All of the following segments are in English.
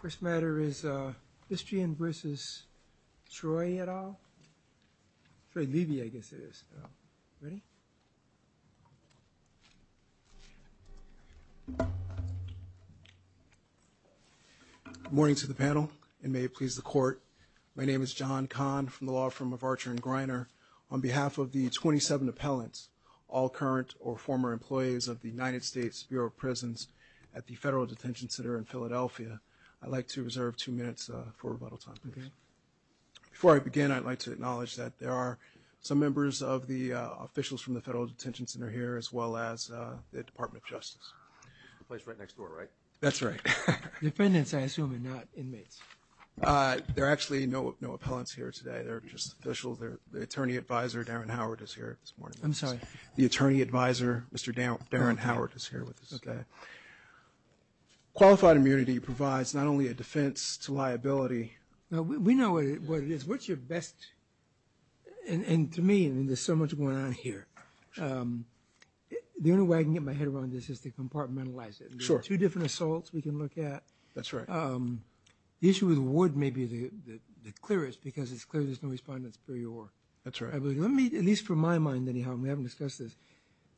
First matter is Bistrian v. Troy et al. Troy Levi I guess it is. Ready? Good morning to the panel, and may it please the Court. My name is John Kahn from the law firm of Archer & Greiner. On behalf of the 27 appellants, all current or former employees of the United States Bureau of Prisons at the Federal Detention Center in Philadelphia, I'd like to reserve two minutes for rebuttal time. Before I begin, I'd like to acknowledge that there are some members of the officials from the Federal Detention Center here, as well as the Department of Justice. The place right next door, right? That's right. Defendants, I assume, and not inmates? There are actually no appellants here today. They're just officials. The attorney advisor, Darren Howard, is here this morning. The attorney advisor, Mr. Darren Howard, is here with us. Okay. Qualified immunity provides not only a defense to liability. We know what it is. What's your best... And to me, there's so much going on here. The only way I can get my head around this is to compartmentalize it. Sure. There are two different assaults we can look at. That's right. The issue with Wood may be the clearest, because it's clear there's no respondents per your... That's right. At least for my mind, anyhow, and we haven't discussed this,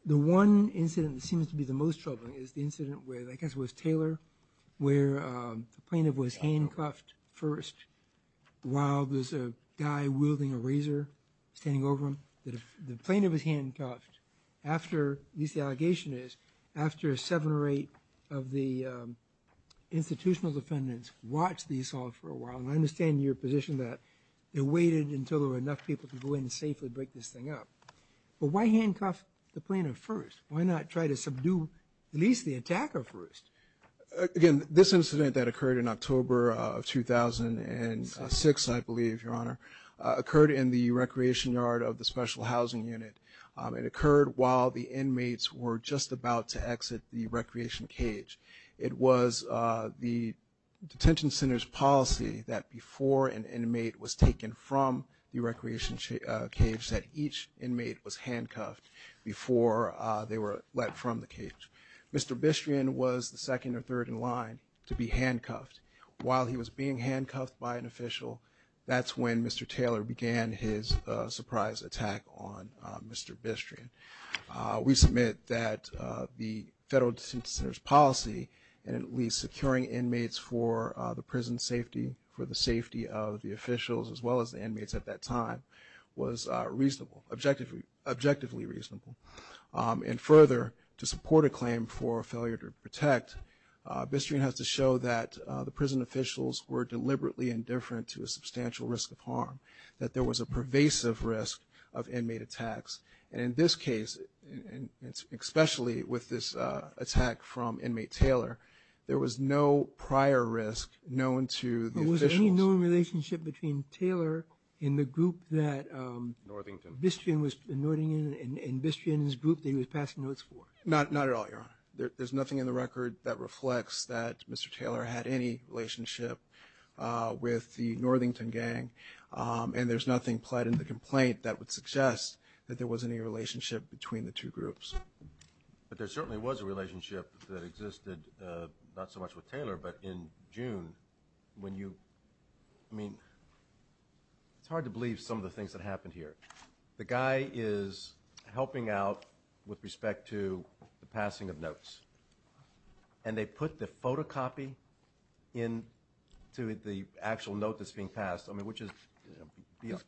the one incident that seems to be the most troubling is the incident with, I guess it was Taylor, where the plaintiff was handcuffed first while there's a guy wielding a razor standing over him. The plaintiff was handcuffed after, at least the allegation is, after seven or eight of the institutional defendants watched the assault for a while. And I understand your position that they waited until there were enough people to go in and safely break this thing up. But why handcuff the plaintiff first? Why not try to subdue at least the attacker first? Again, this incident that occurred in October of 2006, I believe, Your Honor, occurred in the recreation yard of the special housing unit. It occurred while the inmates were just about to exit the recreation cage. It was the detention center's policy that before an inmate was taken from the recreation cage that each inmate was handcuffed before they were let from the cage. Mr. Bistrian was the second or third in line to be handcuffed. While he was being handcuffed by an official, that's when Mr. Taylor began his surprise attack on Mr. Bistrian. We submit that the federal detention center's policy, and at least securing inmates for the prison safety, for the safety of the officials as well as the inmates at that time, was reasonably, objectively reasonable. And further, to support a claim for failure to protect, Bistrian has to show that the prison officials were deliberately indifferent to a substantial risk of harm, that there was a pervasive risk of inmate attacks. And in this case, especially with this attack from inmate Taylor, there was no prior risk known to the officials. Was there any known relationship between Taylor and the group that Bistrian was in, and Bistrian's group that he was passing notes for? Not at all, Your Honor. There's nothing in the record that reflects that Mr. Taylor had any relationship with the Northington gang, and there's nothing pled in the complaint that would suggest that there was any relationship between the two groups. But there certainly was a relationship that existed, not so much with Taylor, but in June when you, I mean, it's hard to believe some of the things that happened here. The guy is helping out with respect to the passing of notes, and they put the photocopy into the actual note that's being passed, I mean, which is, you know,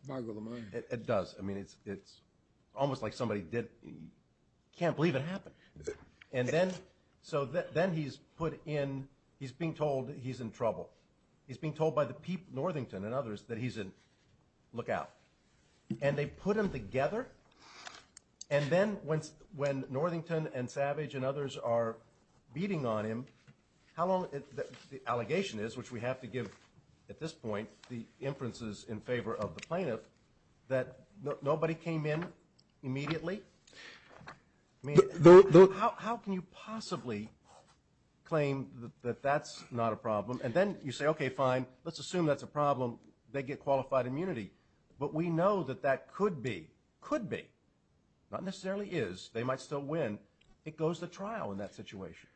it does. I mean, it's almost like somebody did, you can't believe it happened. And then, so then he's put in, he's being told he's in trouble. He's being told by the people, Northington and others, that he's a lookout. And they put him together, and then when Northington and Savage and others are beating on him, how long, the allegation is, which we have to give at this point the inferences in favor of the plaintiff, that nobody came in immediately? I mean, how can you possibly claim that that's not a problem? And then you say, okay, fine, let's assume that's a problem, they get qualified immunity. But we know that that could be, could be, not necessarily is, they might still win. It goes to trial in that situation.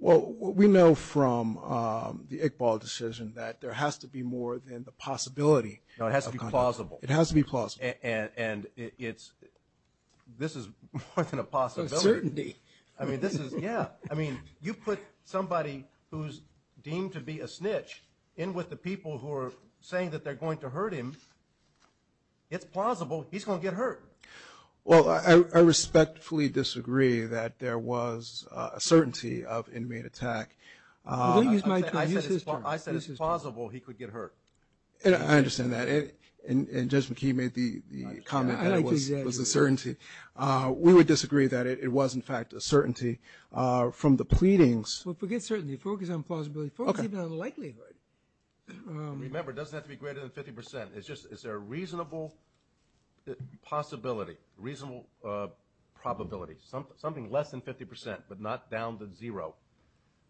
Well, we know from the Iqbal decision that there has to be more than the possibility. No, it has to be plausible. It has to be plausible. And it's, this is more than a possibility. A certainty. I mean, this is, yeah. I mean, you put somebody who's deemed to be a snitch in with the people who are saying that they're going to hurt him, it's plausible he's going to get hurt. Well, I respectfully disagree that there was a certainty of inmate attack. I said it's plausible he could get hurt. I understand that. And Judge McKee made the comment that it was a certainty. We would disagree that it was, in fact, a certainty. From the pleadings. Well, forget certainty. Focus on plausibility. Focus even on the likelihood. Remember, it doesn't have to be greater than 50%. It's just, is there a reasonable possibility, reasonable probability, something less than 50%, but not down to zero,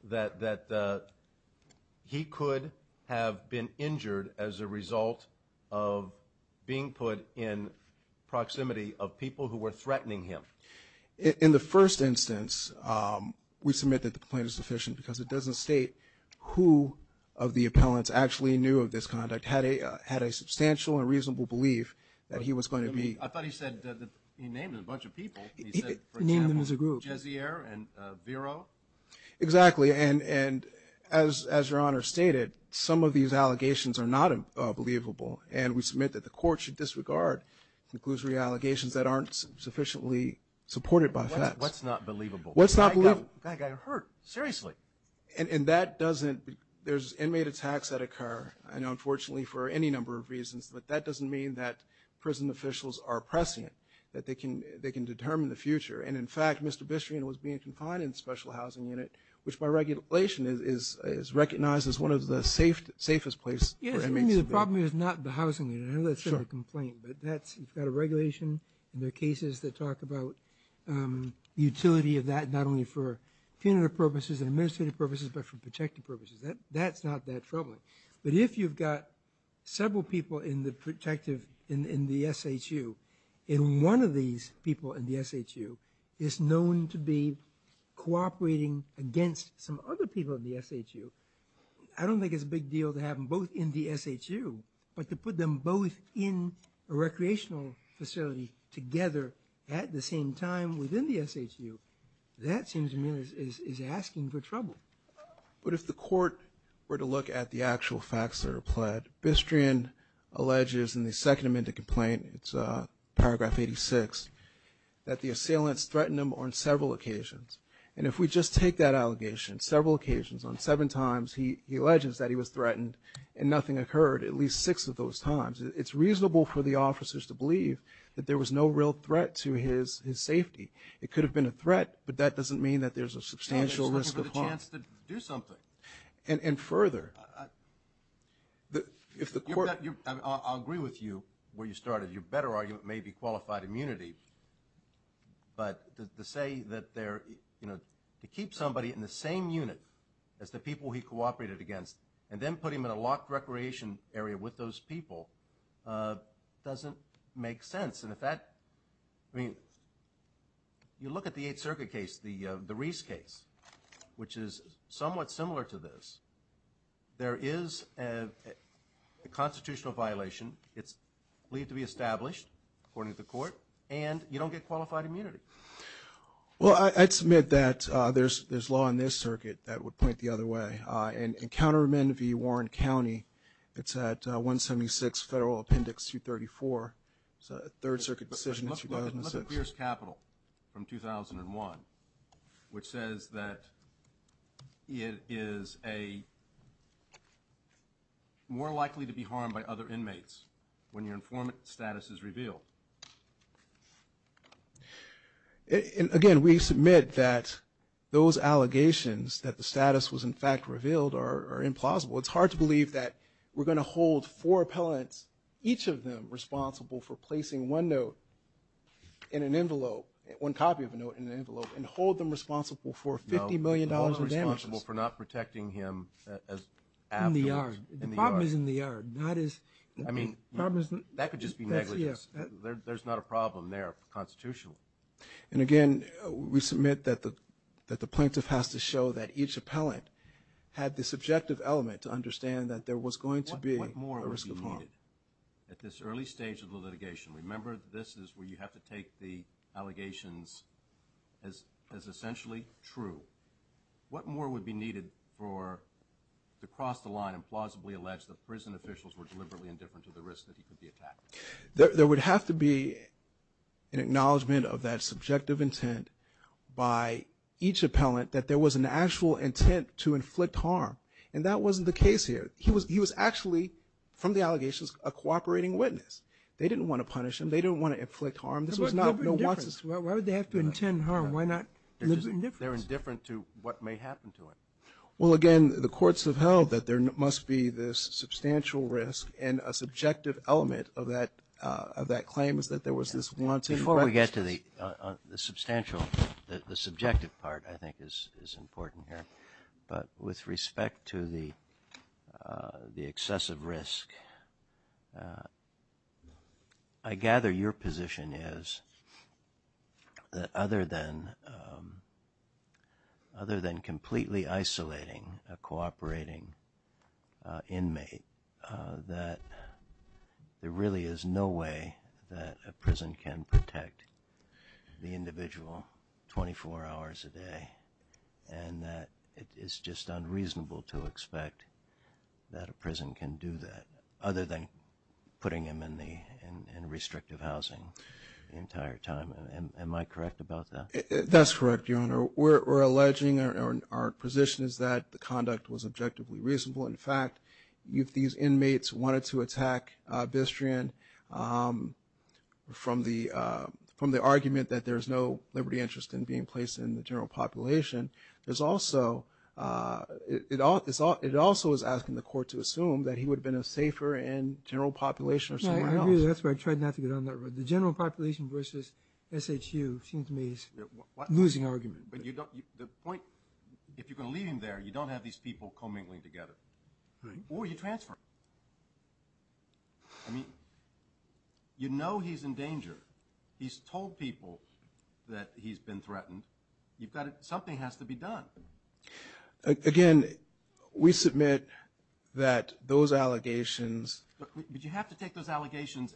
that he could have been injured as a result of being put in proximity of people who were threatening him? In the first instance, we submit that the complaint is sufficient because it doesn't state who of the appellants actually knew of this conduct, had a substantial and reasonable belief that he was going to be. I thought he said, he named a bunch of people. He named them as a group. Jezier and Vero? Exactly. And as Your Honor stated, some of these allegations are not believable, and we submit that the court should disregard conclusory allegations that aren't sufficiently supported by facts. What's not believable? What's not believable? That guy got hurt. Seriously. And that doesn't, there's inmate attacks that occur. I know, unfortunately, for any number of reasons, but that doesn't mean that prison officials are prescient, that they can determine the future. And, in fact, Mr. Bistrian was being confined in the special housing unit, which by regulation is recognized as one of the safest places for inmates. Yes, I mean, the problem is not the housing unit. I know that's a complaint, but that's, you've got a regulation, and there are cases that talk about utility of that, not only for punitive purposes and administrative purposes, but for protective purposes. That's not that troubling. But if you've got several people in the protective, in the SHU, and one of these people in the SHU is known to be cooperating against some other people in the SHU, I don't think it's a big deal to have them both in the SHU, but to put them both in a recreational facility together at the same time within the SHU, that seems to me is asking for trouble. But if the court were to look at the actual facts that are pled, Bistrian alleges in the second amended complaint, it's paragraph 86, that the assailants threatened him on several occasions. And if we just take that allegation, several occasions, on seven times, he alleges that he was threatened and nothing occurred at least six of those times. It's reasonable for the officers to believe that there was no real threat to his safety. It could have been a threat, but that doesn't mean that there's a substantial risk of harm. And further, if the court- I'll agree with you where you started. Your better argument may be qualified immunity, but to say that they're, you know, to keep somebody in the same unit as the people he cooperated against and then put him in a locked recreation area with those people doesn't make sense. And if that- I mean, you look at the Eighth Circuit case, the Reese case, which is somewhat similar to this. There is a constitutional violation. It's believed to be established, according to the court, and you don't get qualified immunity. Well, I'd submit that there's law in this circuit that would point the other way. In Counterman v. Warren County, it's at 176 Federal Appendix 234. It's a Third Circuit decision in 2006. But look at Pierce Capital from 2001, which says that it is a- more likely to be harmed by other inmates when your informant status is revealed. And again, we submit that those allegations that the status was in fact revealed are implausible. It's hard to believe that we're going to hold four appellants, each of them responsible for placing one note in an envelope, one copy of a note in an envelope, and hold them responsible for $50 million in damages. No, hold them responsible for not protecting him as- In the yard. In the yard. The problem is in the yard, not as- I mean, that could just be negligence. There's not a problem there constitutionally. And again, we submit that the plaintiff has to show that each appellant had the subjective element to understand that there was going to be a risk of harm. What more would be needed at this early stage of the litigation? Remember, this is where you have to take the allegations as essentially true. What more would be needed for- to cross the line and plausibly allege that prison officials were deliberately indifferent to the risk that he could be attacked? There would have to be an acknowledgment of that subjective intent by each appellant that there was an actual intent to inflict harm, and that wasn't the case here. He was actually, from the allegations, a cooperating witness. They didn't want to punish him. They didn't want to inflict harm. This was not- Why would they have to intend harm? Why not- They're indifferent to what may happen to him. Well, again, the courts have held that there must be this substantial risk and a subjective element of that claim is that there was this wanton- Before we get to the substantial- the subjective part, I think, is important here. But with respect to the excessive risk, I gather your position is that other than completely isolating a cooperating inmate, that there really is no way that a prison can protect the individual 24 hours a day and that it is just unreasonable to expect that a prison can do that, other than putting him in restrictive housing the entire time. Am I correct about that? That's correct, Your Honor. We're alleging our position is that the conduct was objectively reasonable. In fact, if these inmates wanted to attack Bistrian from the argument that there's no liberty interest in being placed in the general population, it also is asking the court to assume that he would have been a safer in general population or somewhere else. No, I agree with that. That's why I tried not to get on that road. The general population versus SHU seems to me is a losing argument. But the point- if you're going to leave him there, you don't have these people co-mingling together. Right. Or you transfer him. I mean, you know he's in danger. He's told people that he's been threatened. You've got to- something has to be done. Again, we submit that those allegations- But you have to take those allegations-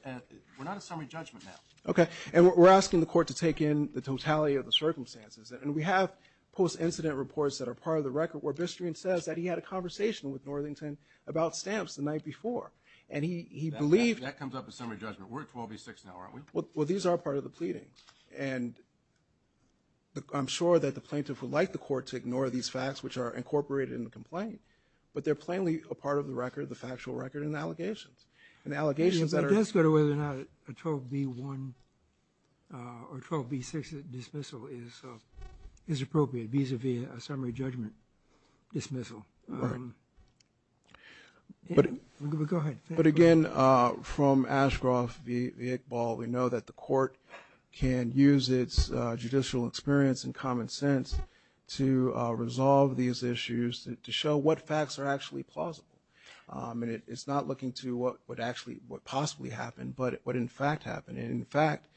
we're not a summary judgment now. Okay. And we're asking the court to take in the totality of the circumstances. And we have post-incident reports that are part of the record where Bistrian says that he had a conversation with Northington about stamps the night before. And he believed- That comes up as summary judgment. We're at 12 v. 6 now, aren't we? Well, these are part of the pleading. And I'm sure that the plaintiff would like the court to ignore these facts which are incorporated in the complaint. But they're plainly a part of the record, the factual record, and the allegations. And the allegations that are- It does go to whether or not a 12 v. 1 or 12 v. 6 dismissal is appropriate vis-à-vis a summary judgment dismissal. Right. Go ahead. But, again, from Ashcroft v. Iqbal, we know that the court can use its judicial experience and common sense to resolve these issues to show what facts are actually plausible. And it's not looking to what would actually- what possibly happened, but what, in fact, happened. And, in fact,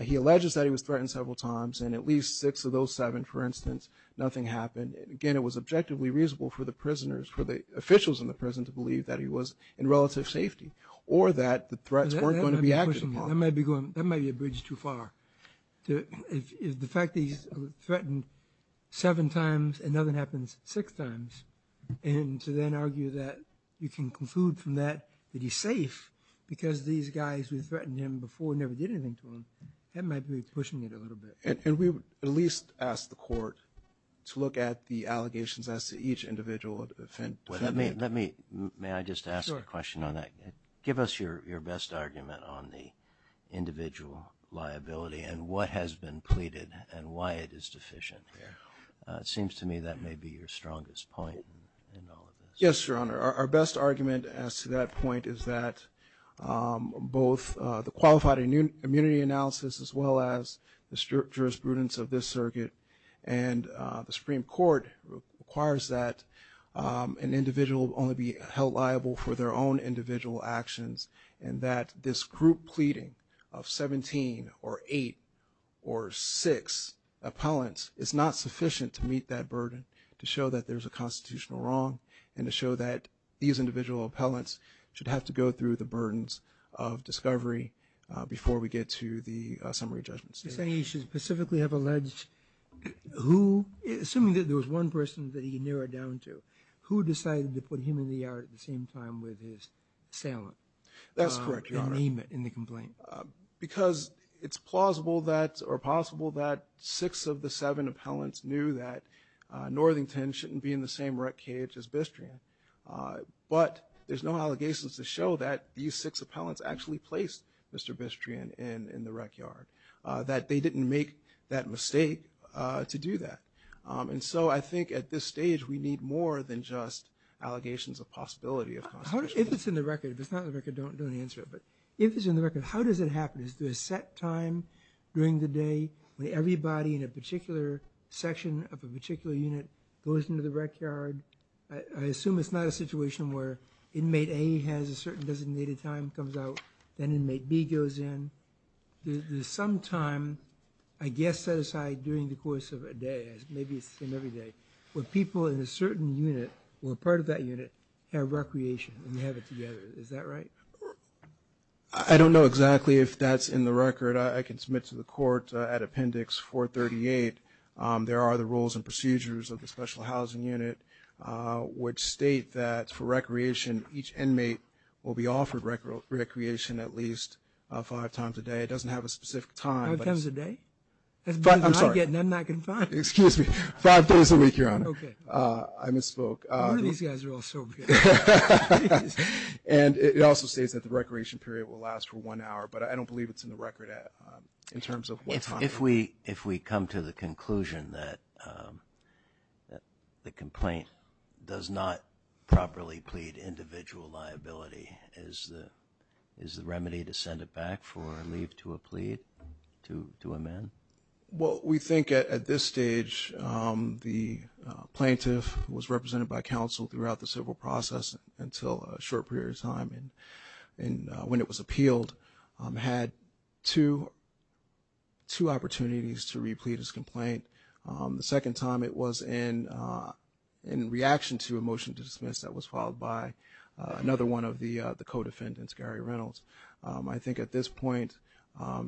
he alleges that he was threatened several times, and at least six of those seven, for instance, nothing happened. Again, it was objectively reasonable for the prisoners- for the officials in the prison to believe that he was in relative safety or that the threats weren't going to be acted upon. That might be a bridge too far. The fact that he's threatened seven times and nothing happens six times and to then argue that you can conclude from that that he's safe because these guys who threatened him before never did anything to him, that might be pushing it a little bit. And we would at least ask the court to look at the allegations as to each individual defendant. Let me- may I just ask a question on that? Give us your best argument on the individual liability and what has been pleaded and why it is deficient. It seems to me that may be your strongest point in all of this. Yes, Your Honor. Our best argument as to that point is that both the qualified immunity analysis as well as the jurisprudence of this circuit and the Supreme Court requires that an individual only be held liable for their own individual actions and that this group pleading of 17 or 8 or 6 appellants is not sufficient to meet that burden, to show that there's a constitutional wrong and to show that these individual appellants should have to go through the burdens of discovery before we get to the summary judgment stage. Are you saying he should specifically have alleged who- assuming that there was one person that he narrowed down to, who decided to put him in the yard at the same time with his assailant? That's correct, Your Honor. And name it in the complaint. Because it's plausible that- or possible that 6 of the 7 appellants knew that Northington shouldn't be in the same rec cage as Bistrian. But there's no allegations to show that these 6 appellants actually placed Mr. Bistrian in the rec yard. That they didn't make that mistake to do that. And so I think at this stage, we need more than just allegations of possibility of constitutional- How does- if it's in the record, if it's not in the record, don't answer it. But if it's in the record, how does it happen? Is there a set time during the day when everybody in a particular section of a particular unit goes into the rec yard? I assume it's not a situation where inmate A has a certain designated time, comes out, then inmate B goes in. There's some time, I guess set aside during the course of a day, maybe it's the same every day, where people in a certain unit or part of that unit have recreation and they have it together. Is that right? I don't know exactly if that's in the record. I can submit to the court at Appendix 438. There are the rules and procedures of the special housing unit which state that for recreation, each inmate will be offered recreation at least five times a day. It doesn't have a specific time. Five times a day? I'm sorry. That's better than I get and I'm not confined. Excuse me. Five days a week, Your Honor. Okay. I misspoke. None of these guys are all sober. And it also states that the recreation period will last for one hour, but I don't believe it's in the record in terms of what time. If we come to the conclusion that the complaint does not properly plead individual liability, is the remedy to send it back for leave to a plea to amend? Well, we think at this stage the plaintiff was represented by counsel throughout the civil process until a short period of time when it was appealed, had two opportunities to replete his complaint. The second time it was in reaction to a motion to dismiss that was followed by another one of the co-defendants, Gary Reynolds. I think at this point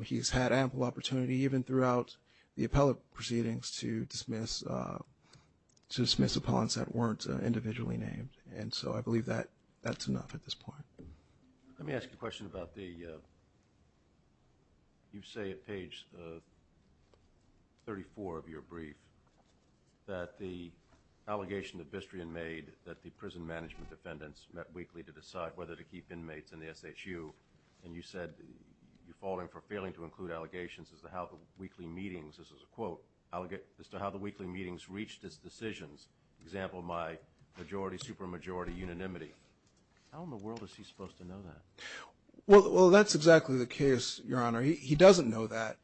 he's had ample opportunity even throughout the appellate proceedings to dismiss opponents that weren't individually named. And so I believe that that's enough at this point. Let me ask you a question about the you say at page 34 of your brief that the allegation that Bistrian made that the prison management defendants met weekly to decide whether to keep inmates in the SHU, and you said you're falling for failing to include allegations as to how the weekly meetings, this is a quote, as to how the weekly meetings reached its decisions. Example, my majority, supermajority unanimity. How in the world is he supposed to know that? Well, that's exactly the case, Your Honor. He doesn't know that.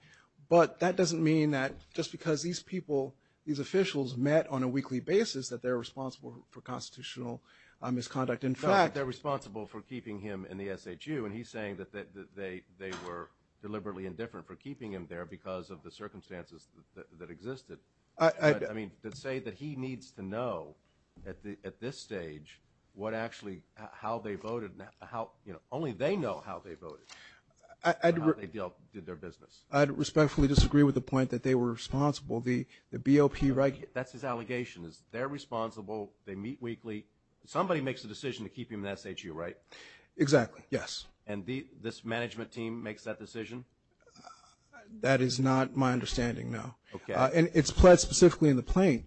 But that doesn't mean that just because these people, these officials met on a weekly basis that they're responsible for constitutional misconduct. In fact, they're responsible for keeping him in the SHU, and he's saying that they were deliberately indifferent for keeping him there because of the circumstances that existed. I mean, to say that he needs to know at this stage what actually how they voted, only they know how they voted, how they did their business. I respectfully disagree with the point that they were responsible. The BOP right here, that's his allegation, is they're responsible, they meet weekly. Somebody makes the decision to keep him in the SHU, right? Exactly, yes. And this management team makes that decision? That is not my understanding, no. Okay. And it's pled specifically in the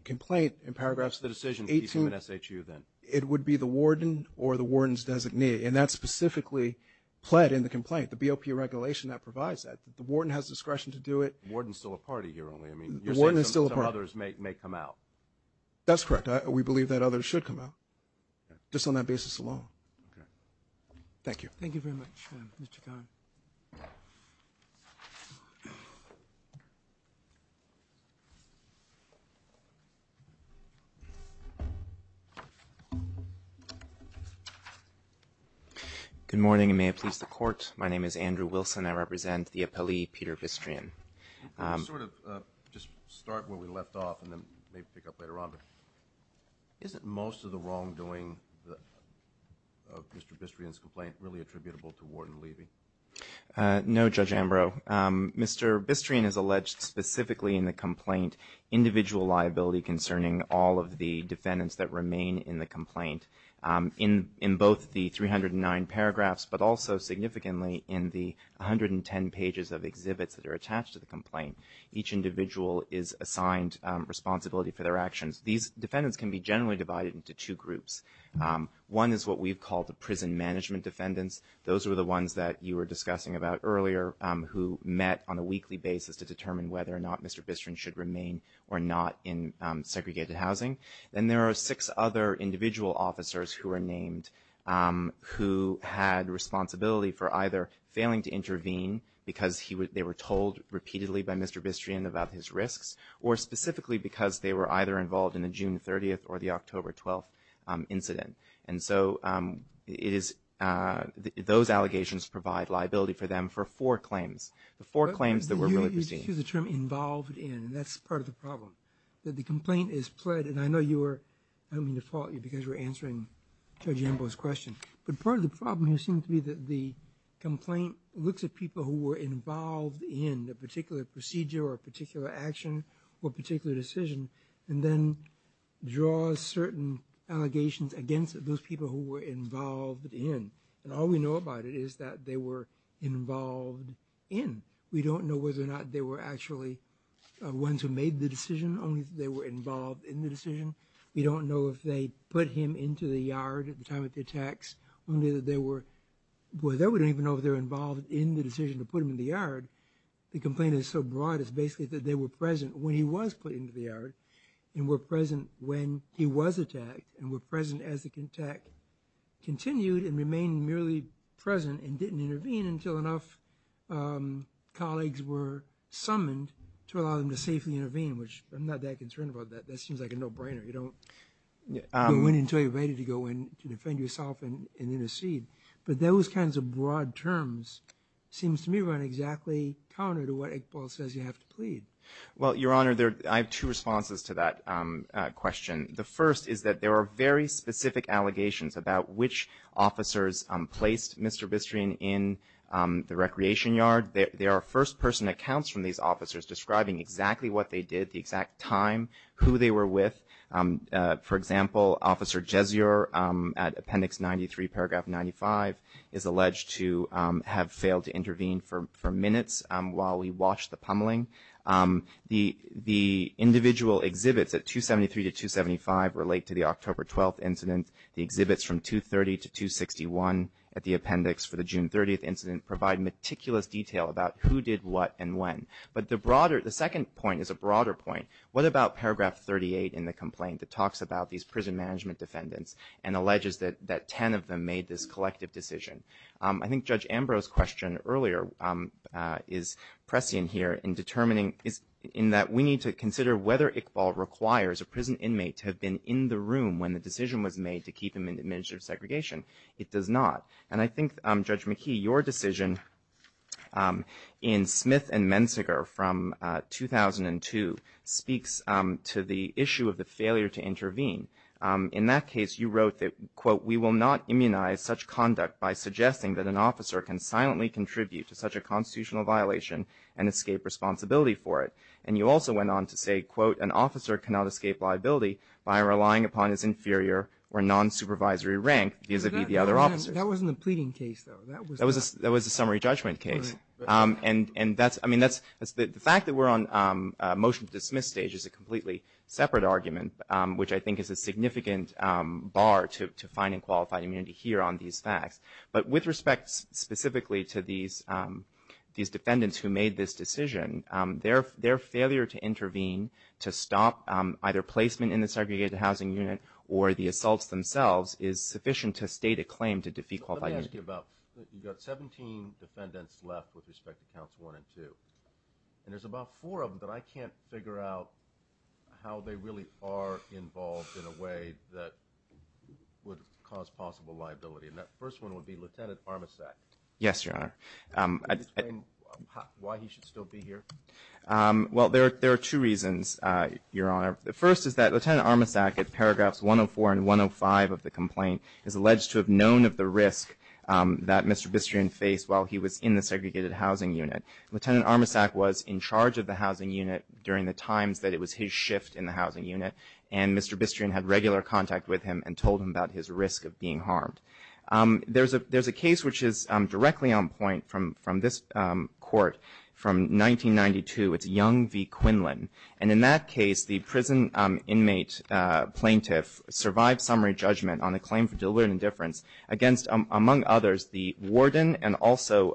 complaint in paragraphs 18. What's the decision to keep him in SHU then? It would be the warden or the warden's designee, and that's specifically pled in the complaint, the BOP regulation that provides that. The warden has discretion to do it. The warden's still a party here only. I mean, you're saying some others may come out. That's correct. We believe that others should come out, just on that basis alone. Okay. Thank you. Thank you very much, Mr. Conner. Good morning, and may it please the Court. My name is Andrew Wilson. I represent the appellee, Peter Bistrian. Sort of just start where we left off, and then maybe pick up later on, but isn't most of the wrongdoing of Mr. Bistrian's complaint really attributable to warden Levy? No, Judge Ambrose. to be responsible for the BOP regulation. individual liability concerning all of the defendants that remain in the complaint. In both the 309 paragraphs, but also significantly, in the 110 pages of exhibits that are attached to the complaint, each individual is assigned responsibility for their actions. These defendants can be generally divided into two groups. One is what we've called the prison management defendants. Those are the ones that you were discussing about earlier who met on a weekly basis to determine whether or not Mr. Bistrian should remain or not in segregated housing. Then there are six other individual officers who are named who had responsibility for either failing to intervene because they were told repeatedly by Mr. Bistrian about his risks, or specifically because they were either involved in the June 30th or the October 12th incident. And so those allegations provide liability for them for four claims. You used the term involved in, and that's part of the problem. That the complaint is pled, and I know you were, I don't mean to fault you because you were answering Judge Ambrose's question, but part of the problem here seems to be that the complaint looks at people who were involved in a particular procedure or a particular action or a particular decision and then draws certain allegations against those people who were involved in. And all we know about it is that they were involved in. We don't know whether or not they were actually ones who made the decision, only that they were involved in the decision. We don't know if they put him into the yard at the time of the attacks, only that they were, well then we don't even know if they were involved in the decision to put him in the yard. The complaint is so broad, it's basically that they were present when he was put into the yard, and were present when he was attacked, and were present as the attack continued and remained merely present and didn't intervene until enough colleagues were summoned to allow them to safely intervene, which I'm not that concerned about that. That seems like a no-brainer. You don't win until you're ready to go in to defend yourself and intercede. But those kinds of broad terms seems to me run exactly counter to what Iqbal says you have to plead. Well, Your Honor, I have two responses to that question. The first is that there are very specific allegations about which officers placed Mr. Bistrian in the recreation yard. There are first-person accounts from these officers describing exactly what they did, the exact time, who they were with. For example, Officer Jesior at Appendix 93, Paragraph 95, is alleged to have failed to intervene for minutes while we watched the pummeling. The individual exhibits at 273 to 275 relate to the October 12th incident. The exhibits from 230 to 261 at the appendix for the June 30th incident provide meticulous detail about who did what and when. But the second point is a broader point. What about Paragraph 38 in the complaint that talks about these prison management defendants and alleges that 10 of them made this collective decision? I think Judge Ambrose's question earlier is prescient here in that we need to consider whether Iqbal requires a prison inmate to have been in the room when the decision was made to keep him in administrative segregation. It does not. And I think, Judge McKee, your decision in Smith and Menziger from 2002 speaks to the issue of the failure to intervene. In that case, you wrote that, quote, we will not immunize such conduct by suggesting that an officer can silently contribute to such a constitutional violation and escape responsibility for it. And you also went on to say, quote, an officer cannot escape liability by relying upon his inferior or non-supervisory rank vis-a-vis the other officers. That wasn't a pleading case, though. That was a summary judgment case. And that's the fact that we're on a motion to dismiss stage is a completely separate argument, which I think is a significant bar to finding qualified immunity here on these facts. But with respect specifically to these defendants who made this decision, their failure to intervene to stop either placement in the segregated housing unit or the assaults themselves is sufficient to state a claim to defeat qualified immunity. Let me ask you about that. You've got 17 defendants left with respect to counts one and two. And there's about four of them that I can't figure out how they really are involved in a way that would cause possible liability. And that first one would be Lieutenant Armasack. Yes, Your Honor. Can you explain why he should still be here? Well, there are two reasons, Your Honor. The first is that Lieutenant Armasack, at paragraphs 104 and 105 of the complaint, is alleged to have known of the risk that Mr. Bistrian faced while he was in the segregated housing unit. Lieutenant Armasack was in charge of the housing unit during the times that it was his shift in the housing unit, and Mr. Bistrian had regular contact with him and told him about his risk of being harmed. There's a case which is directly on point from this court from 1992. It's Young v. Quinlan. And in that case, the prison inmate plaintiff survived summary judgment on a claim for deliberate indifference against, among others, the warden and also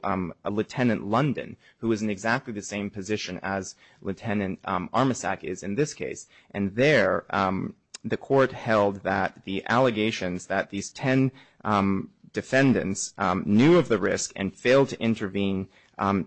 Lieutenant London, who was in exactly the same position as Lieutenant Armasack is in this case. And there, the court held that the allegations that these ten defendants knew of the risk and failed to intervene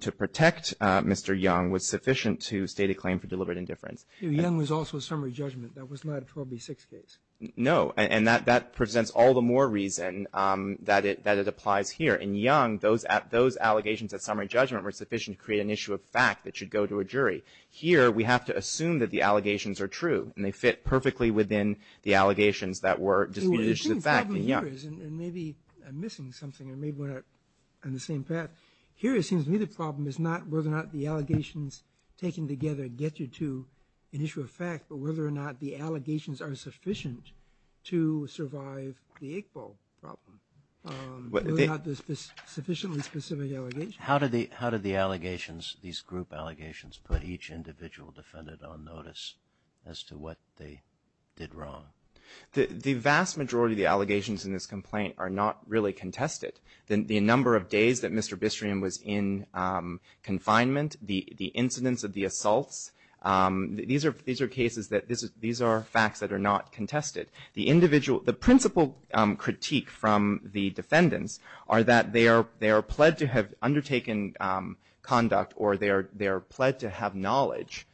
to protect Mr. Young was sufficient to state a claim for deliberate indifference. Young was also a summary judgment. That was not a 12B6 case. No. And that presents all the more reason that it applies here. In Young, those allegations at summary judgment were sufficient to create an issue of fact that should go to a jury. Here, we have to assume that the allegations are true and they fit perfectly within the allegations that were disputed issues of fact in Young. Well, the thing is probably here is, and maybe I'm missing something, or maybe we're not on the same path. Here, it seems to me the problem is not whether or not the allegations taken together get you to an issue of fact, but whether or not the allegations are sufficient to survive the eight-ball problem, whether or not there's sufficiently specific allegations. How did the allegations, these group allegations, put each individual defendant on notice as to what they did wrong? The vast majority of the allegations in this complaint are not really contested. The number of days that Mr. Bistream was in confinement, the incidence of the assaults, these are cases that, these are facts that are not contested. The individual, the principal critique from the defendants are that they are pled to have undertaken conduct or they are pled to have knowledge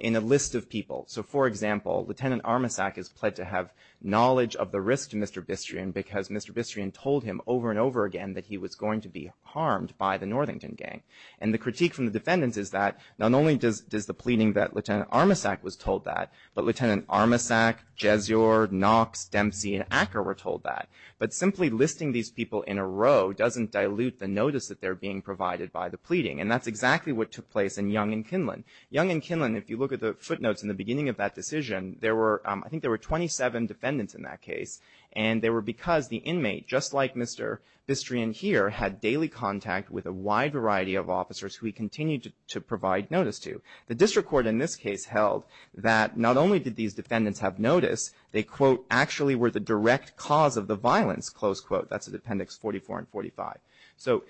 in a list of people. So, for example, Lieutenant Armasack is pled to have knowledge of the risk to Mr. Bistream because Mr. Bistream told him over and over again that he was going to be harmed by the Northington gang. And the critique from the defendants is that not only does the pleading that Lieutenant Armasack was told that, but Lieutenant Armasack, Jesior, Knox, Dempsey, and Acker were told that. But simply listing these people in a row doesn't dilute the notice that they're being provided by the pleading. And that's exactly what took place in Young and Kinlan. Young and Kinlan, if you look at the footnotes in the beginning of that decision, there were, I think there were 27 defendants in that case. And they were because the inmate, just like Mr. Bistream here, had daily contact with a wide variety of officers who he continued to provide notice to. The district court in this case held that not only did these defendants have notice, they, quote, actually were the direct cause of the violence, close quote. That's in Appendix 44 and 45. So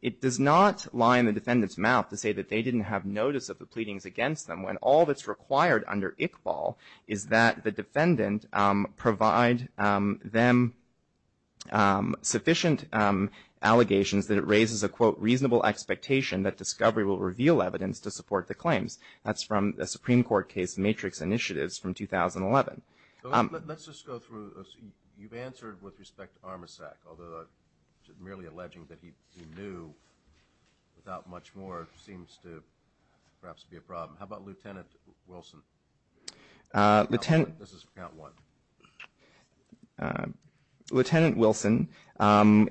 it does not lie in the defendant's mouth to say that they didn't have notice of the pleadings against them when all that's required under ICBAL is that the defendant provide them sufficient allegations that it raises a, quote, reasonable expectation that discovery will reveal evidence to support the claims. That's from a Supreme Court case, Matrix Initiatives, from 2011. Let's just go through. You've answered with respect to Armisac, although merely alleging that he knew without much more seems to perhaps be a problem. How about Lieutenant Wilson? This is for Count 1. Lieutenant Wilson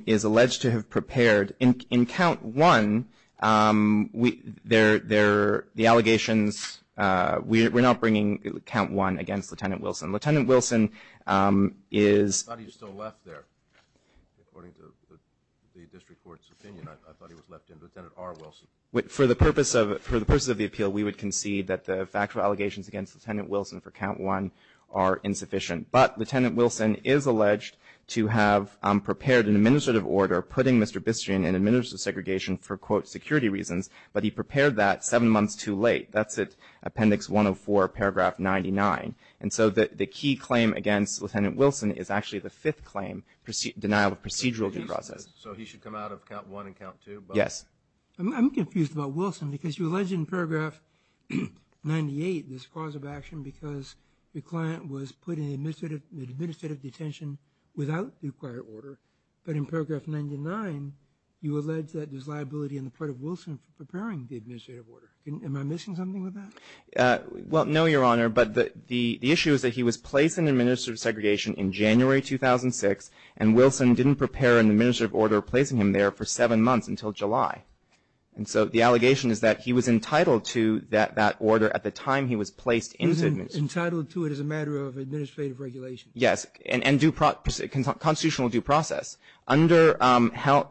is alleged to have prepared. In Count 1, the allegations, we're not bringing Count 1 against Lieutenant Wilson. Lieutenant Wilson is. I thought he was still left there. According to the district court's opinion, I thought he was left in. Lieutenant R. Wilson. For the purposes of the appeal, we would concede that the factual allegations against Lieutenant Wilson for Count 1 are insufficient. But Lieutenant Wilson is alleged to have prepared an administrative order putting Mr. Bistrian in administrative segregation for, quote, security reasons, but he prepared that seven months too late. That's at Appendix 104, Paragraph 99. And so the key claim against Lieutenant Wilson is actually the fifth claim, denial of procedural due process. So he should come out of Count 1 and Count 2? Yes. I'm confused about Wilson because you allege in Paragraph 98 this cause of action because the client was put in administrative detention without the required order, but in Paragraph 99 you allege that there's liability on the part of Wilson for preparing the administrative order. Am I missing something with that? Well, no, Your Honor, but the issue is that he was placed in administrative segregation in January 2006 and Wilson didn't prepare an administrative order placing him there for seven months until July. And so the allegation is that he was entitled to that order at the time he was placed in. He was entitled to it as a matter of administrative regulation. Yes. And constitutional due process. Under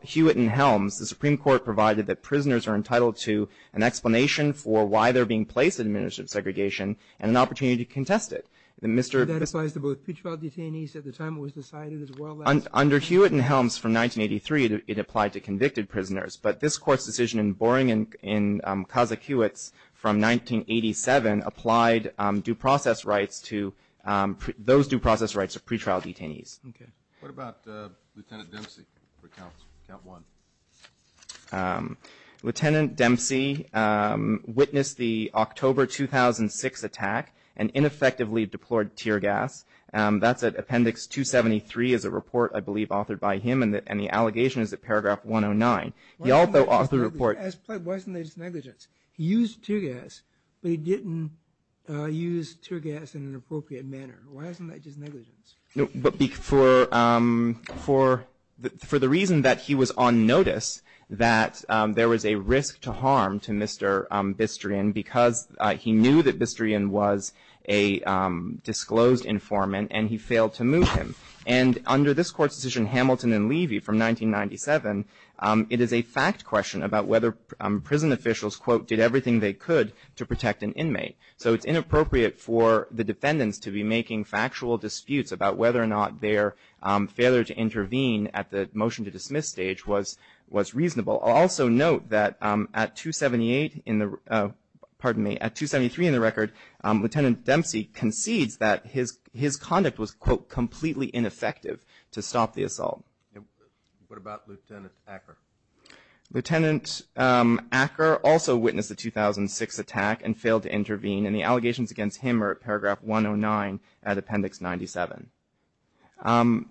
Hewitt and Helms, the Supreme Court provided that prisoners are entitled to an explanation for why they're being placed in administrative segregation and an opportunity to contest it. That applies to both Pitchfeld detainees at the time it was decided as well as? Under Hewitt and Helms from 1983, it applied to convicted prisoners, but this Court's decision in Boring and Kazak-Hewitt's from 1987 applied due process rights to those due process rights of pretrial detainees. Okay. What about Lieutenant Dempsey for count one? Lieutenant Dempsey witnessed the October 2006 attack and ineffectively deployed tear gas. That's at Appendix 273 is a report I believe authored by him, and the allegation is at Paragraph 109. He also authored a report. Why isn't that just negligence? He used tear gas, but he didn't use tear gas in an appropriate manner. Why isn't that just negligence? For the reason that he was on notice that there was a risk to harm to Mr. Bistrian because he knew that Bistrian was a disclosed informant and he failed to move him. And under this Court's decision, Hamilton and Levy from 1997, it is a fact question about whether prison officials, quote, did everything they could to protect an inmate. So it's inappropriate for the defendants to be making factual disputes about whether or not their failure to intervene at the motion to dismiss stage was reasonable. I'll also note that at 278 in the, pardon me, at 273 in the record, Lieutenant Dempsey concedes that his conduct was, quote, completely ineffective to stop the assault. What about Lieutenant Acker? Lieutenant Acker also witnessed the 2006 attack and failed to intervene, and the allegations against him are at Paragraph 109 at Appendix 97. In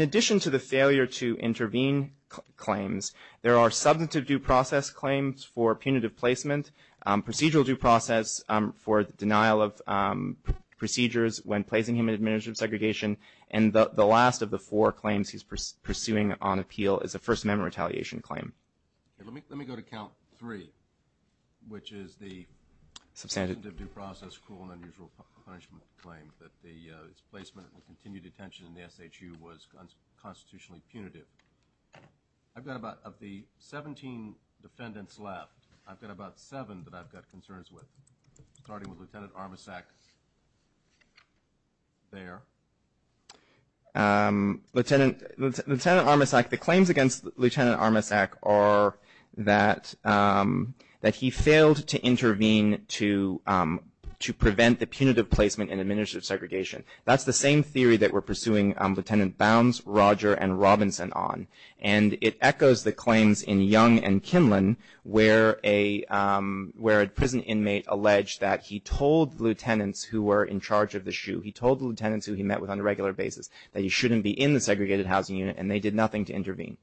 addition to the failure to intervene claims, there are substantive due process claims for punitive placement, procedural due process for denial of procedures when placing him in administrative segregation. And the last of the four claims he's pursuing on appeal is a First Amendment retaliation claim. Let me go to Count 3, which is the substantive due process, cruel and unusual punishment claim that his placement in continued detention in the SHU was constitutionally punitive. I've got about, of the 17 defendants left, I've got about seven that I've got concerns with, starting with Lieutenant Armasack there. Lieutenant Armasack, the claims against Lieutenant Armasack are that he failed to intervene to prevent the punitive placement in administrative segregation. That's the same theory that we're pursuing Lieutenant Bounds, Roger, and Robinson on. And it echoes the claims in Young and Kinlan where a prison inmate alleged that he told the lieutenants who were in charge of the SHU, he told the lieutenants who he met with on a regular basis, that he shouldn't be in the segregated housing unit and they did nothing to intervene.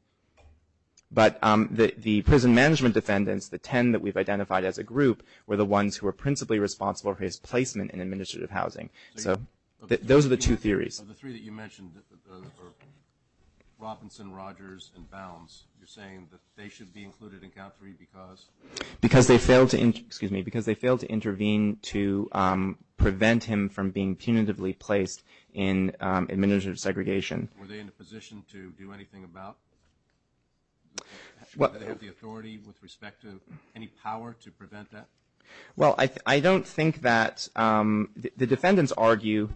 But the prison management defendants, the 10 that we've identified as a group, were the ones who were principally responsible for his placement in administrative housing. So those are the two theories. Of the three that you mentioned, Robinson, Rogers, and Bounds, you're saying that they should be included in Count 3 because? Because they failed to intervene to prevent him from being punitively placed in administrative segregation. Were they in a position to do anything about it? Did they have the authority with respect to any power to prevent that? Well, I don't think that the defendants argue,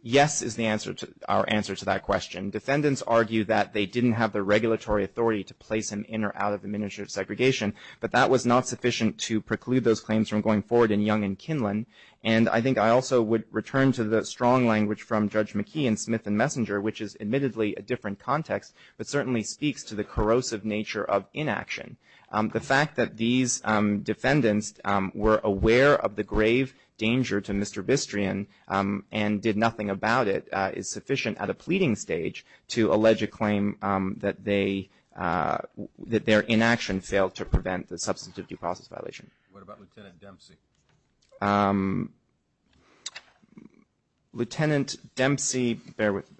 yes is our answer to that question. Defendants argue that they didn't have the regulatory authority to place him in or out of administrative segregation, but that was not sufficient to preclude those claims from going forward in Young and Kinlan. And I think I also would return to the strong language from Judge McKee and Smith and Messenger, which is admittedly a different context, but certainly speaks to the corrosive nature of inaction. The fact that these defendants were aware of the grave danger to Mr. Bistrian and did nothing about it is sufficient at a pleading stage to their inaction failed to prevent the substantive due process violation. What about Lieutenant Dempsey? Lieutenant Dempsey, bear with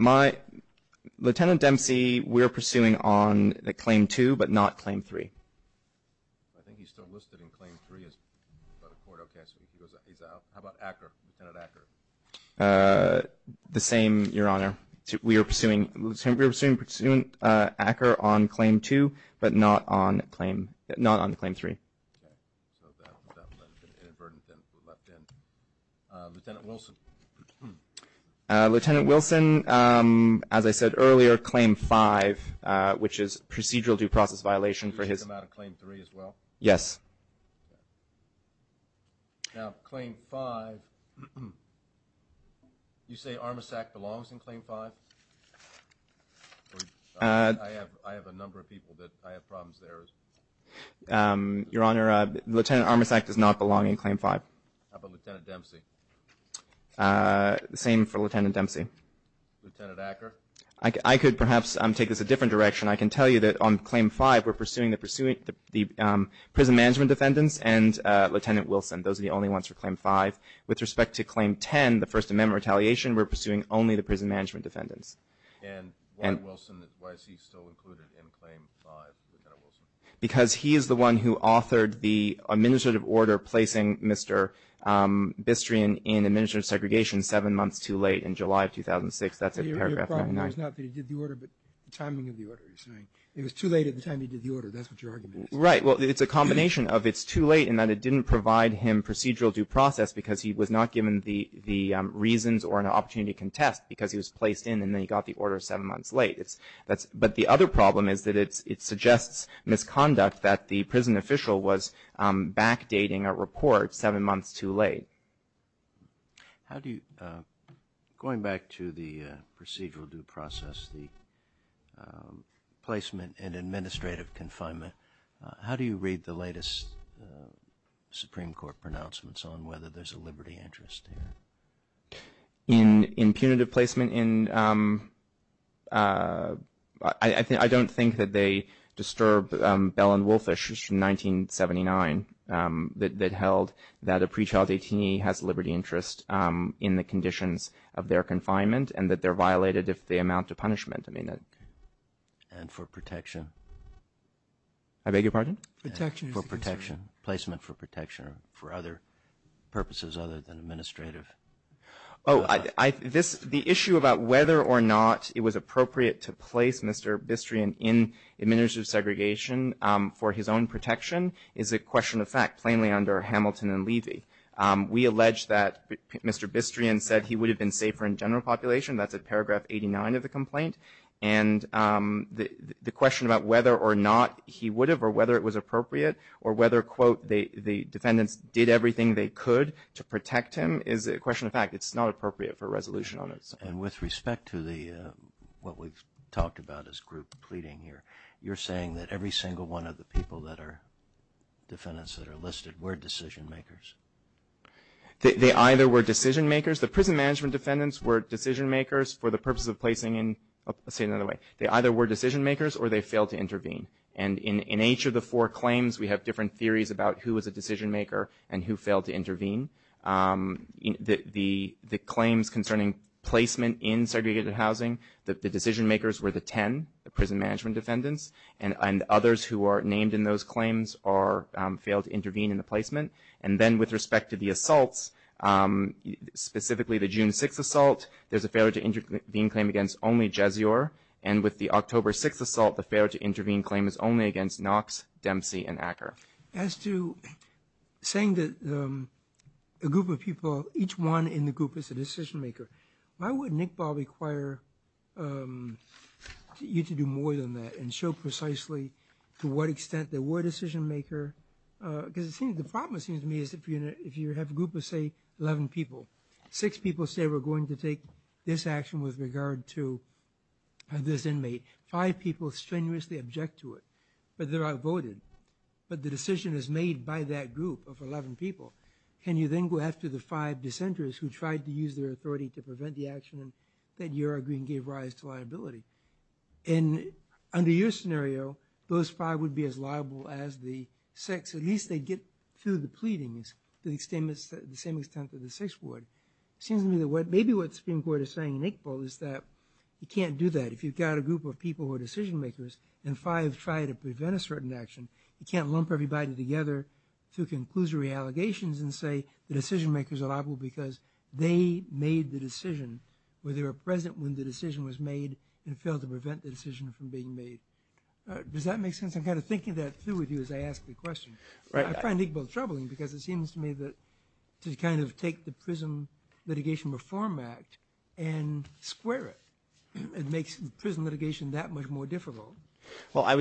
me. Lieutenant Dempsey, we're pursuing on Claim 2, but not Claim 3. I think he's still listed in Claim 3. How about Acker, Lieutenant Acker? The same, Your Honor. We are pursuing Acker on Claim 2, but not on Claim 3. Lieutenant Wilson? Lieutenant Wilson, as I said earlier, Claim 5, which is procedural due process violation for his – Did he come out of Claim 3 as well? Yes. Now, Claim 5, you say Armasack belongs in Claim 5? I have a number of people that I have problems there. Your Honor, Lieutenant Armasack does not belong in Claim 5. How about Lieutenant Dempsey? The same for Lieutenant Dempsey. Lieutenant Acker? I could perhaps take this a different direction. I can tell you that on Claim 5, we're pursuing the prison management defendants and Lieutenant Wilson. Those are the only ones for Claim 5. With respect to Claim 10, the First Amendment retaliation, we're pursuing only the prison management defendants. And why is he still included in Claim 5, Lieutenant Wilson? Because he is the one who authored the administrative order placing Mr. Bistrian in administrative segregation seven months too late in July of 2006. That's in Paragraph 99. It was not that he did the order, but the timing of the order, you're saying. It was too late at the time he did the order. That's what your argument is. Right. Well, it's a combination of it's too late and that it didn't provide him procedural due process because he was not given the reasons or an opportunity to contest because he was placed in and then he got the order seven months late. But the other problem is that it suggests misconduct that the prison official was backdating a report seven months too late. How do you, going back to the procedural due process, the placement in administrative confinement, how do you read the latest Supreme Court pronouncements on whether there's a liberty interest here? In punitive placement, I don't think that they disturbed Bell and Wolfish in 1979 that held that a pre-child AT&T has liberty interest in the conditions of their confinement and that they're violated if they amount to punishment. And for protection? I beg your pardon? For protection. Placement for protection or for other purposes other than administrative? The issue about whether or not it was appropriate to place Mr. Bistrian in administrative segregation for his own protection is a question of fact plainly under Hamilton and Levy. We allege that Mr. Bistrian said he would have been safer in general population. That's at paragraph 89 of the complaint. And the question about whether or not he would have or whether it was appropriate or whether, quote, the defendants did everything they could to protect him is a question of fact. It's not appropriate for a resolution on it. And with respect to what we've talked about as group pleading here, you're saying that every single one of the people that are defendants that are listed were decision-makers? They either were decision-makers. The prison management defendants were decision-makers for the purpose of placing in, let's say it another way, they either were decision-makers or they failed to intervene. And in each of the four claims, we have different theories about who was a decision-maker and who failed to intervene. The claims concerning placement in segregated housing, the decision-makers were the 10, the prison management defendants, and others who are named in those claims or failed to intervene in the placement. And then with respect to the assaults, specifically the June 6th assault, there's a failure to intervene claim against only Jezior. And with the October 6th assault, the failure to intervene claim is only against Knox, Dempsey, and Acker. As to saying that a group of people, each one in the group is a decision-maker, why would NICPOL require you to do more than that and show precisely to what extent they were decision-maker? Because the problem seems to me is if you have a group of, say, 11 people, six people say we're going to take this action with regard to this inmate, five people strenuously object to it, but they're outvoted. But the decision is made by that group of 11 people. Can you then go after the five dissenters who tried to use their authority to prevent the action that you're arguing gave rise to liability? And under your scenario, those five would be as liable as the six. At least they'd get through the pleadings to the same extent that the six would. It seems to me that maybe what the Supreme Court is saying in NICPOL is that you can't do that. If you've got a group of people who are decision-makers and five try to you can't lump everybody together to conclusory allegations and say the decision-makers are liable because they made the decision or they were present when the decision was made and failed to prevent the decision from being made. Does that make sense? I'm kind of thinking that through with you as I ask the question. I find NICPOL troubling because it seems to me that to kind of take the Prison Litigation Reform Act and square it, it makes prison litigation that much more difficult. Well, I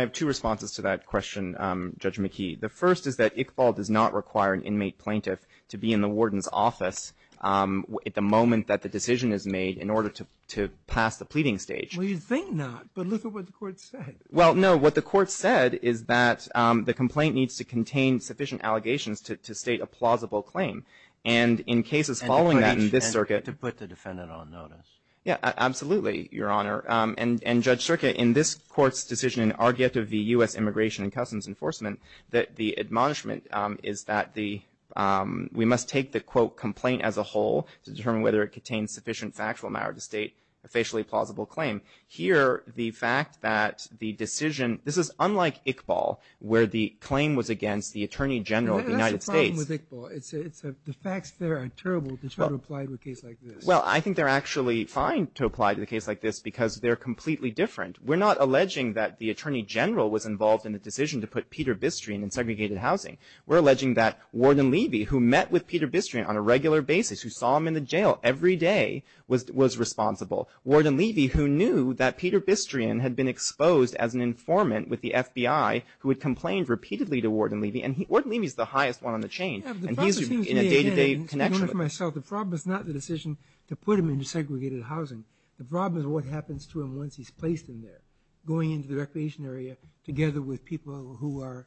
have two responses to that question, Judge McKee. The first is that NICPOL does not require an inmate plaintiff to be in the warden's office at the moment that the decision is made in order to pass the pleading stage. Well, you'd think not, but look at what the court said. Well, no. What the court said is that the complaint needs to contain sufficient allegations to state a plausible claim. And in cases following that in this circuit. And to put the defendant on notice. Yeah, absolutely, Your Honor. And Judge Circa, in this court's decision, an argument of the U.S. Immigration and Customs Enforcement, that the admonishment is that we must take the, quote, complaint as a whole to determine whether it contains sufficient factual matter to state a facially plausible claim. Here, the fact that the decision, this is unlike Iqbal, where the claim was against the Attorney General of the United States. That's the problem with Iqbal. The facts there are terrible to try to apply to a case like this. Well, I think they're actually fine to apply to a case like this because they're completely different. We're not alleging that the Attorney General was involved in the decision to put Peter Bistrian in segregated housing. We're alleging that Warden Levy, who met with Peter Bistrian on a regular basis, who saw him in the jail every day, was responsible. Warden Levy, who knew that Peter Bistrian had been exposed as an informant with the FBI, who had complained repeatedly to Warden Levy. And Warden Levy is the highest one on the chain. And he's in a day-to-day connection. The problem is not the decision to put him in segregated housing. The problem is what happens to him once he's placed in there, going into the recreation area together with people who are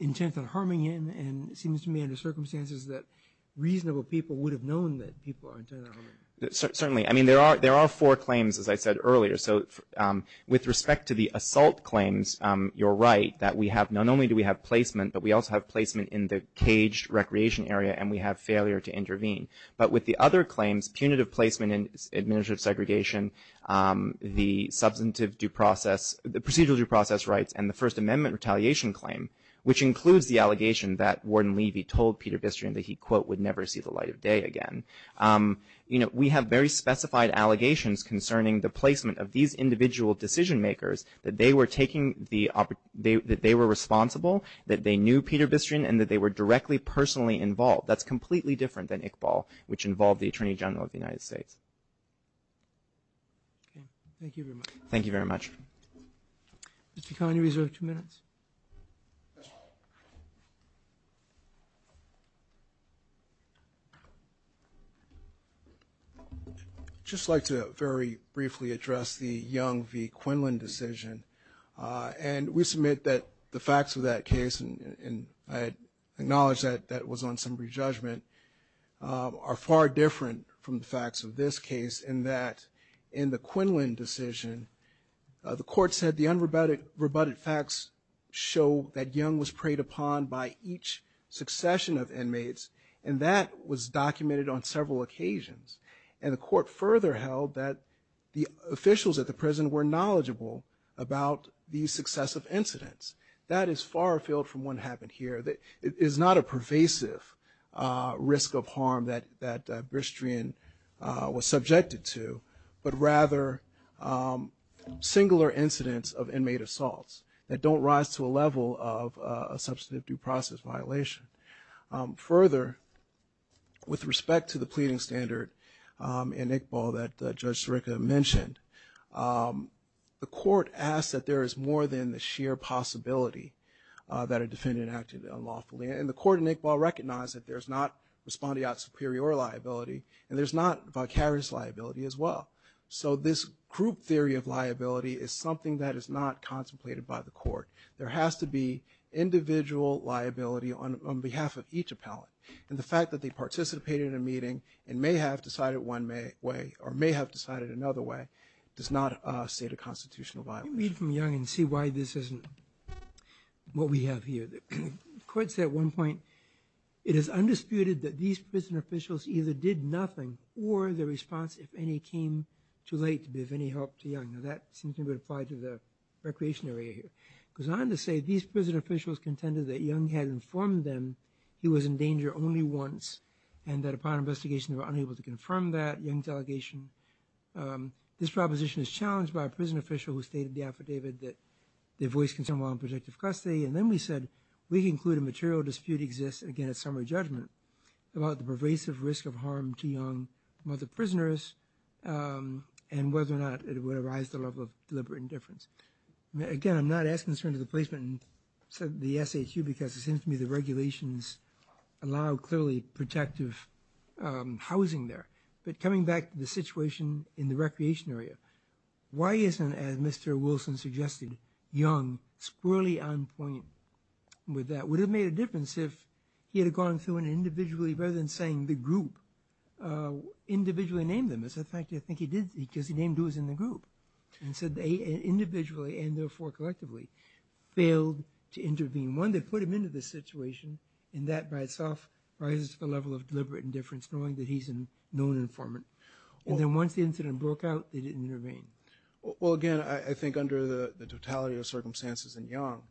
intent on harming him and it seems to me, under circumstances, that reasonable people would have known that people are intent on harming him. Certainly. I mean, there are four claims, as I said earlier. So with respect to the assault claims, you're right, that we have not only do we have placement, but we also have placement in the caged recreation area, and we have failure to intervene. But with the other claims, punitive placement in administrative segregation, the substantive due process, the procedural due process rights, and the First Amendment retaliation claim, which includes the allegation that Warden Levy told Peter Bistrian that he, quote, would never see the light of day again. You know, we have very specified allegations concerning the placement of these individual decision makers, that they were taking the, that they were responsible, that they knew Peter Bistrian, and that they were directly, personally involved. That's completely different than Iqbal, which involved the Attorney General of the United States. Okay. Thank you very much. Thank you very much. Mr. Conyers, you have two minutes. I'd just like to very briefly address the Young v. Quinlan decision. And we submit that the facts of that case, and I acknowledge that that was on some re-judgment, are far different from the facts of this case, in that in the Quinlan decision, the court said the unrebutted facts show that Young was preyed upon by each succession of inmates, and that was documented on several occasions. And the court further held that the officials at the prison were knowledgeable about these successive incidents. That is far afield from what happened here. It is not a pervasive risk of harm that Bistrian was subjected to, but rather singular incidents of inmate assaults that don't rise to a level of a substantive due process violation. Further, with respect to the pleading standard in Iqbal that Judge Sirica mentioned, the court asked that there is more than the sheer possibility that a defendant acted unlawfully. And the court in Iqbal recognized that there's not respondeat superior liability, and there's not vicarious liability as well. So this group theory of liability is something that is not contemplated by the court. There has to be individual liability on behalf of each appellant. And the fact that they participated in a meeting and may have decided one way, or may have decided another way, does not state a constitutional violation. Let me read from Young and see why this isn't what we have here. The court said at one point, it is undisputed that these prison officials either did nothing or their response, if any, came too late to be of any help to Young. Now that seems to be applied to the recreation area here. It goes on to say, these prison officials contended that Young had informed them he was in danger only once and that upon investigation they were unable to confirm that. Young's allegation, this proposition is challenged by a prison official who stated in the affidavit that they voiced concern while in protective custody. And then we said, we conclude a material dispute exists, again at summary judgment, about the pervasive risk of harm to Young and other prisoners and whether or not it would arise at the level of deliberate indifference. Again, I'm not as concerned as the placement and the SHU because it seems to me the regulations allow clearly protective housing there. But coming back to the situation in the recreation area, why isn't, as Mr. Wilson suggested, Young squarely on point with that? Would it have made a difference if he had gone through it individually rather than saying the group individually named him? As a matter of fact, I think he did because he named who was in the group. And so they individually and therefore collectively failed to intervene. One, they put him into this situation and that by itself rises to the level of deliberate indifference knowing that he's a known informant. And then once the incident broke out, they didn't intervene. Well, again, I think under the totality of circumstances in Young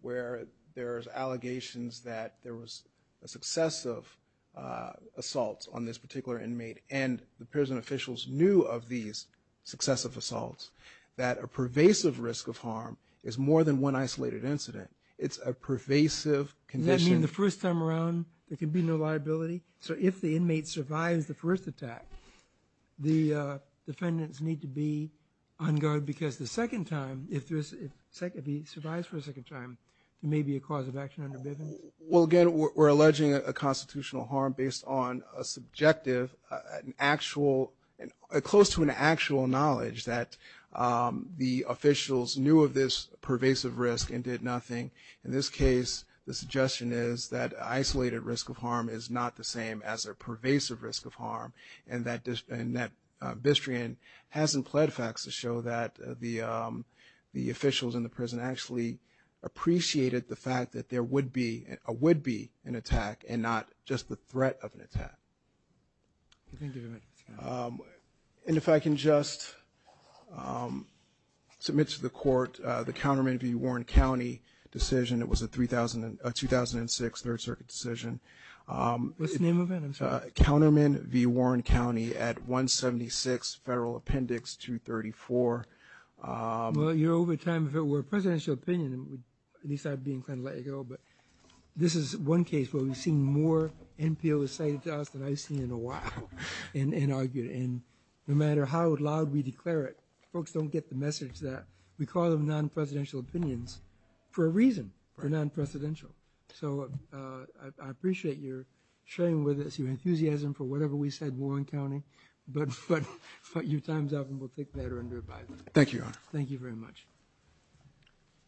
where there's allegations that there was a successive assault on this particular inmate and the prison officials knew of these successive assaults that a pervasive risk of harm is more than one isolated incident. It's a pervasive condition. Does that mean the first time around there can be no liability? So if the inmate survives the first attack, the defendants need to be on guard because the second time, if he survives for a second time, there may be a cause of action under Bivens? Well, again, we're alleging a constitutional harm based on a subjective, an actual, close to an actual knowledge that the officials knew of this pervasive risk and did nothing. In this case, the suggestion is that isolated risk of harm is not the same as a pervasive risk of harm and that Bistrian hasn't pled facts to show that the officials in the prison actually appreciated the fact that there would be an attack and not just the threat of an attack. And if I can just submit to the court the counterman v. Warren County decision. It was a 2006 Third Circuit decision. What's the name of it? I'm sorry. Counterman v. Warren County at 176 Federal Appendix 234. Well, you're over time. If it were a presidential opinion, at least I'd be inclined to let you go, but this is one case where we've seen more NPOs cited to us than I've seen in a while and argued. And no matter how loud we declare it, we call them non-presidential opinions for a reason. They're non-presidential. So I appreciate your sharing with us, your enthusiasm for whatever we said in Warren County, but your time's up and we'll take that under advisement. Thank you, Your Honor. Thank you very much.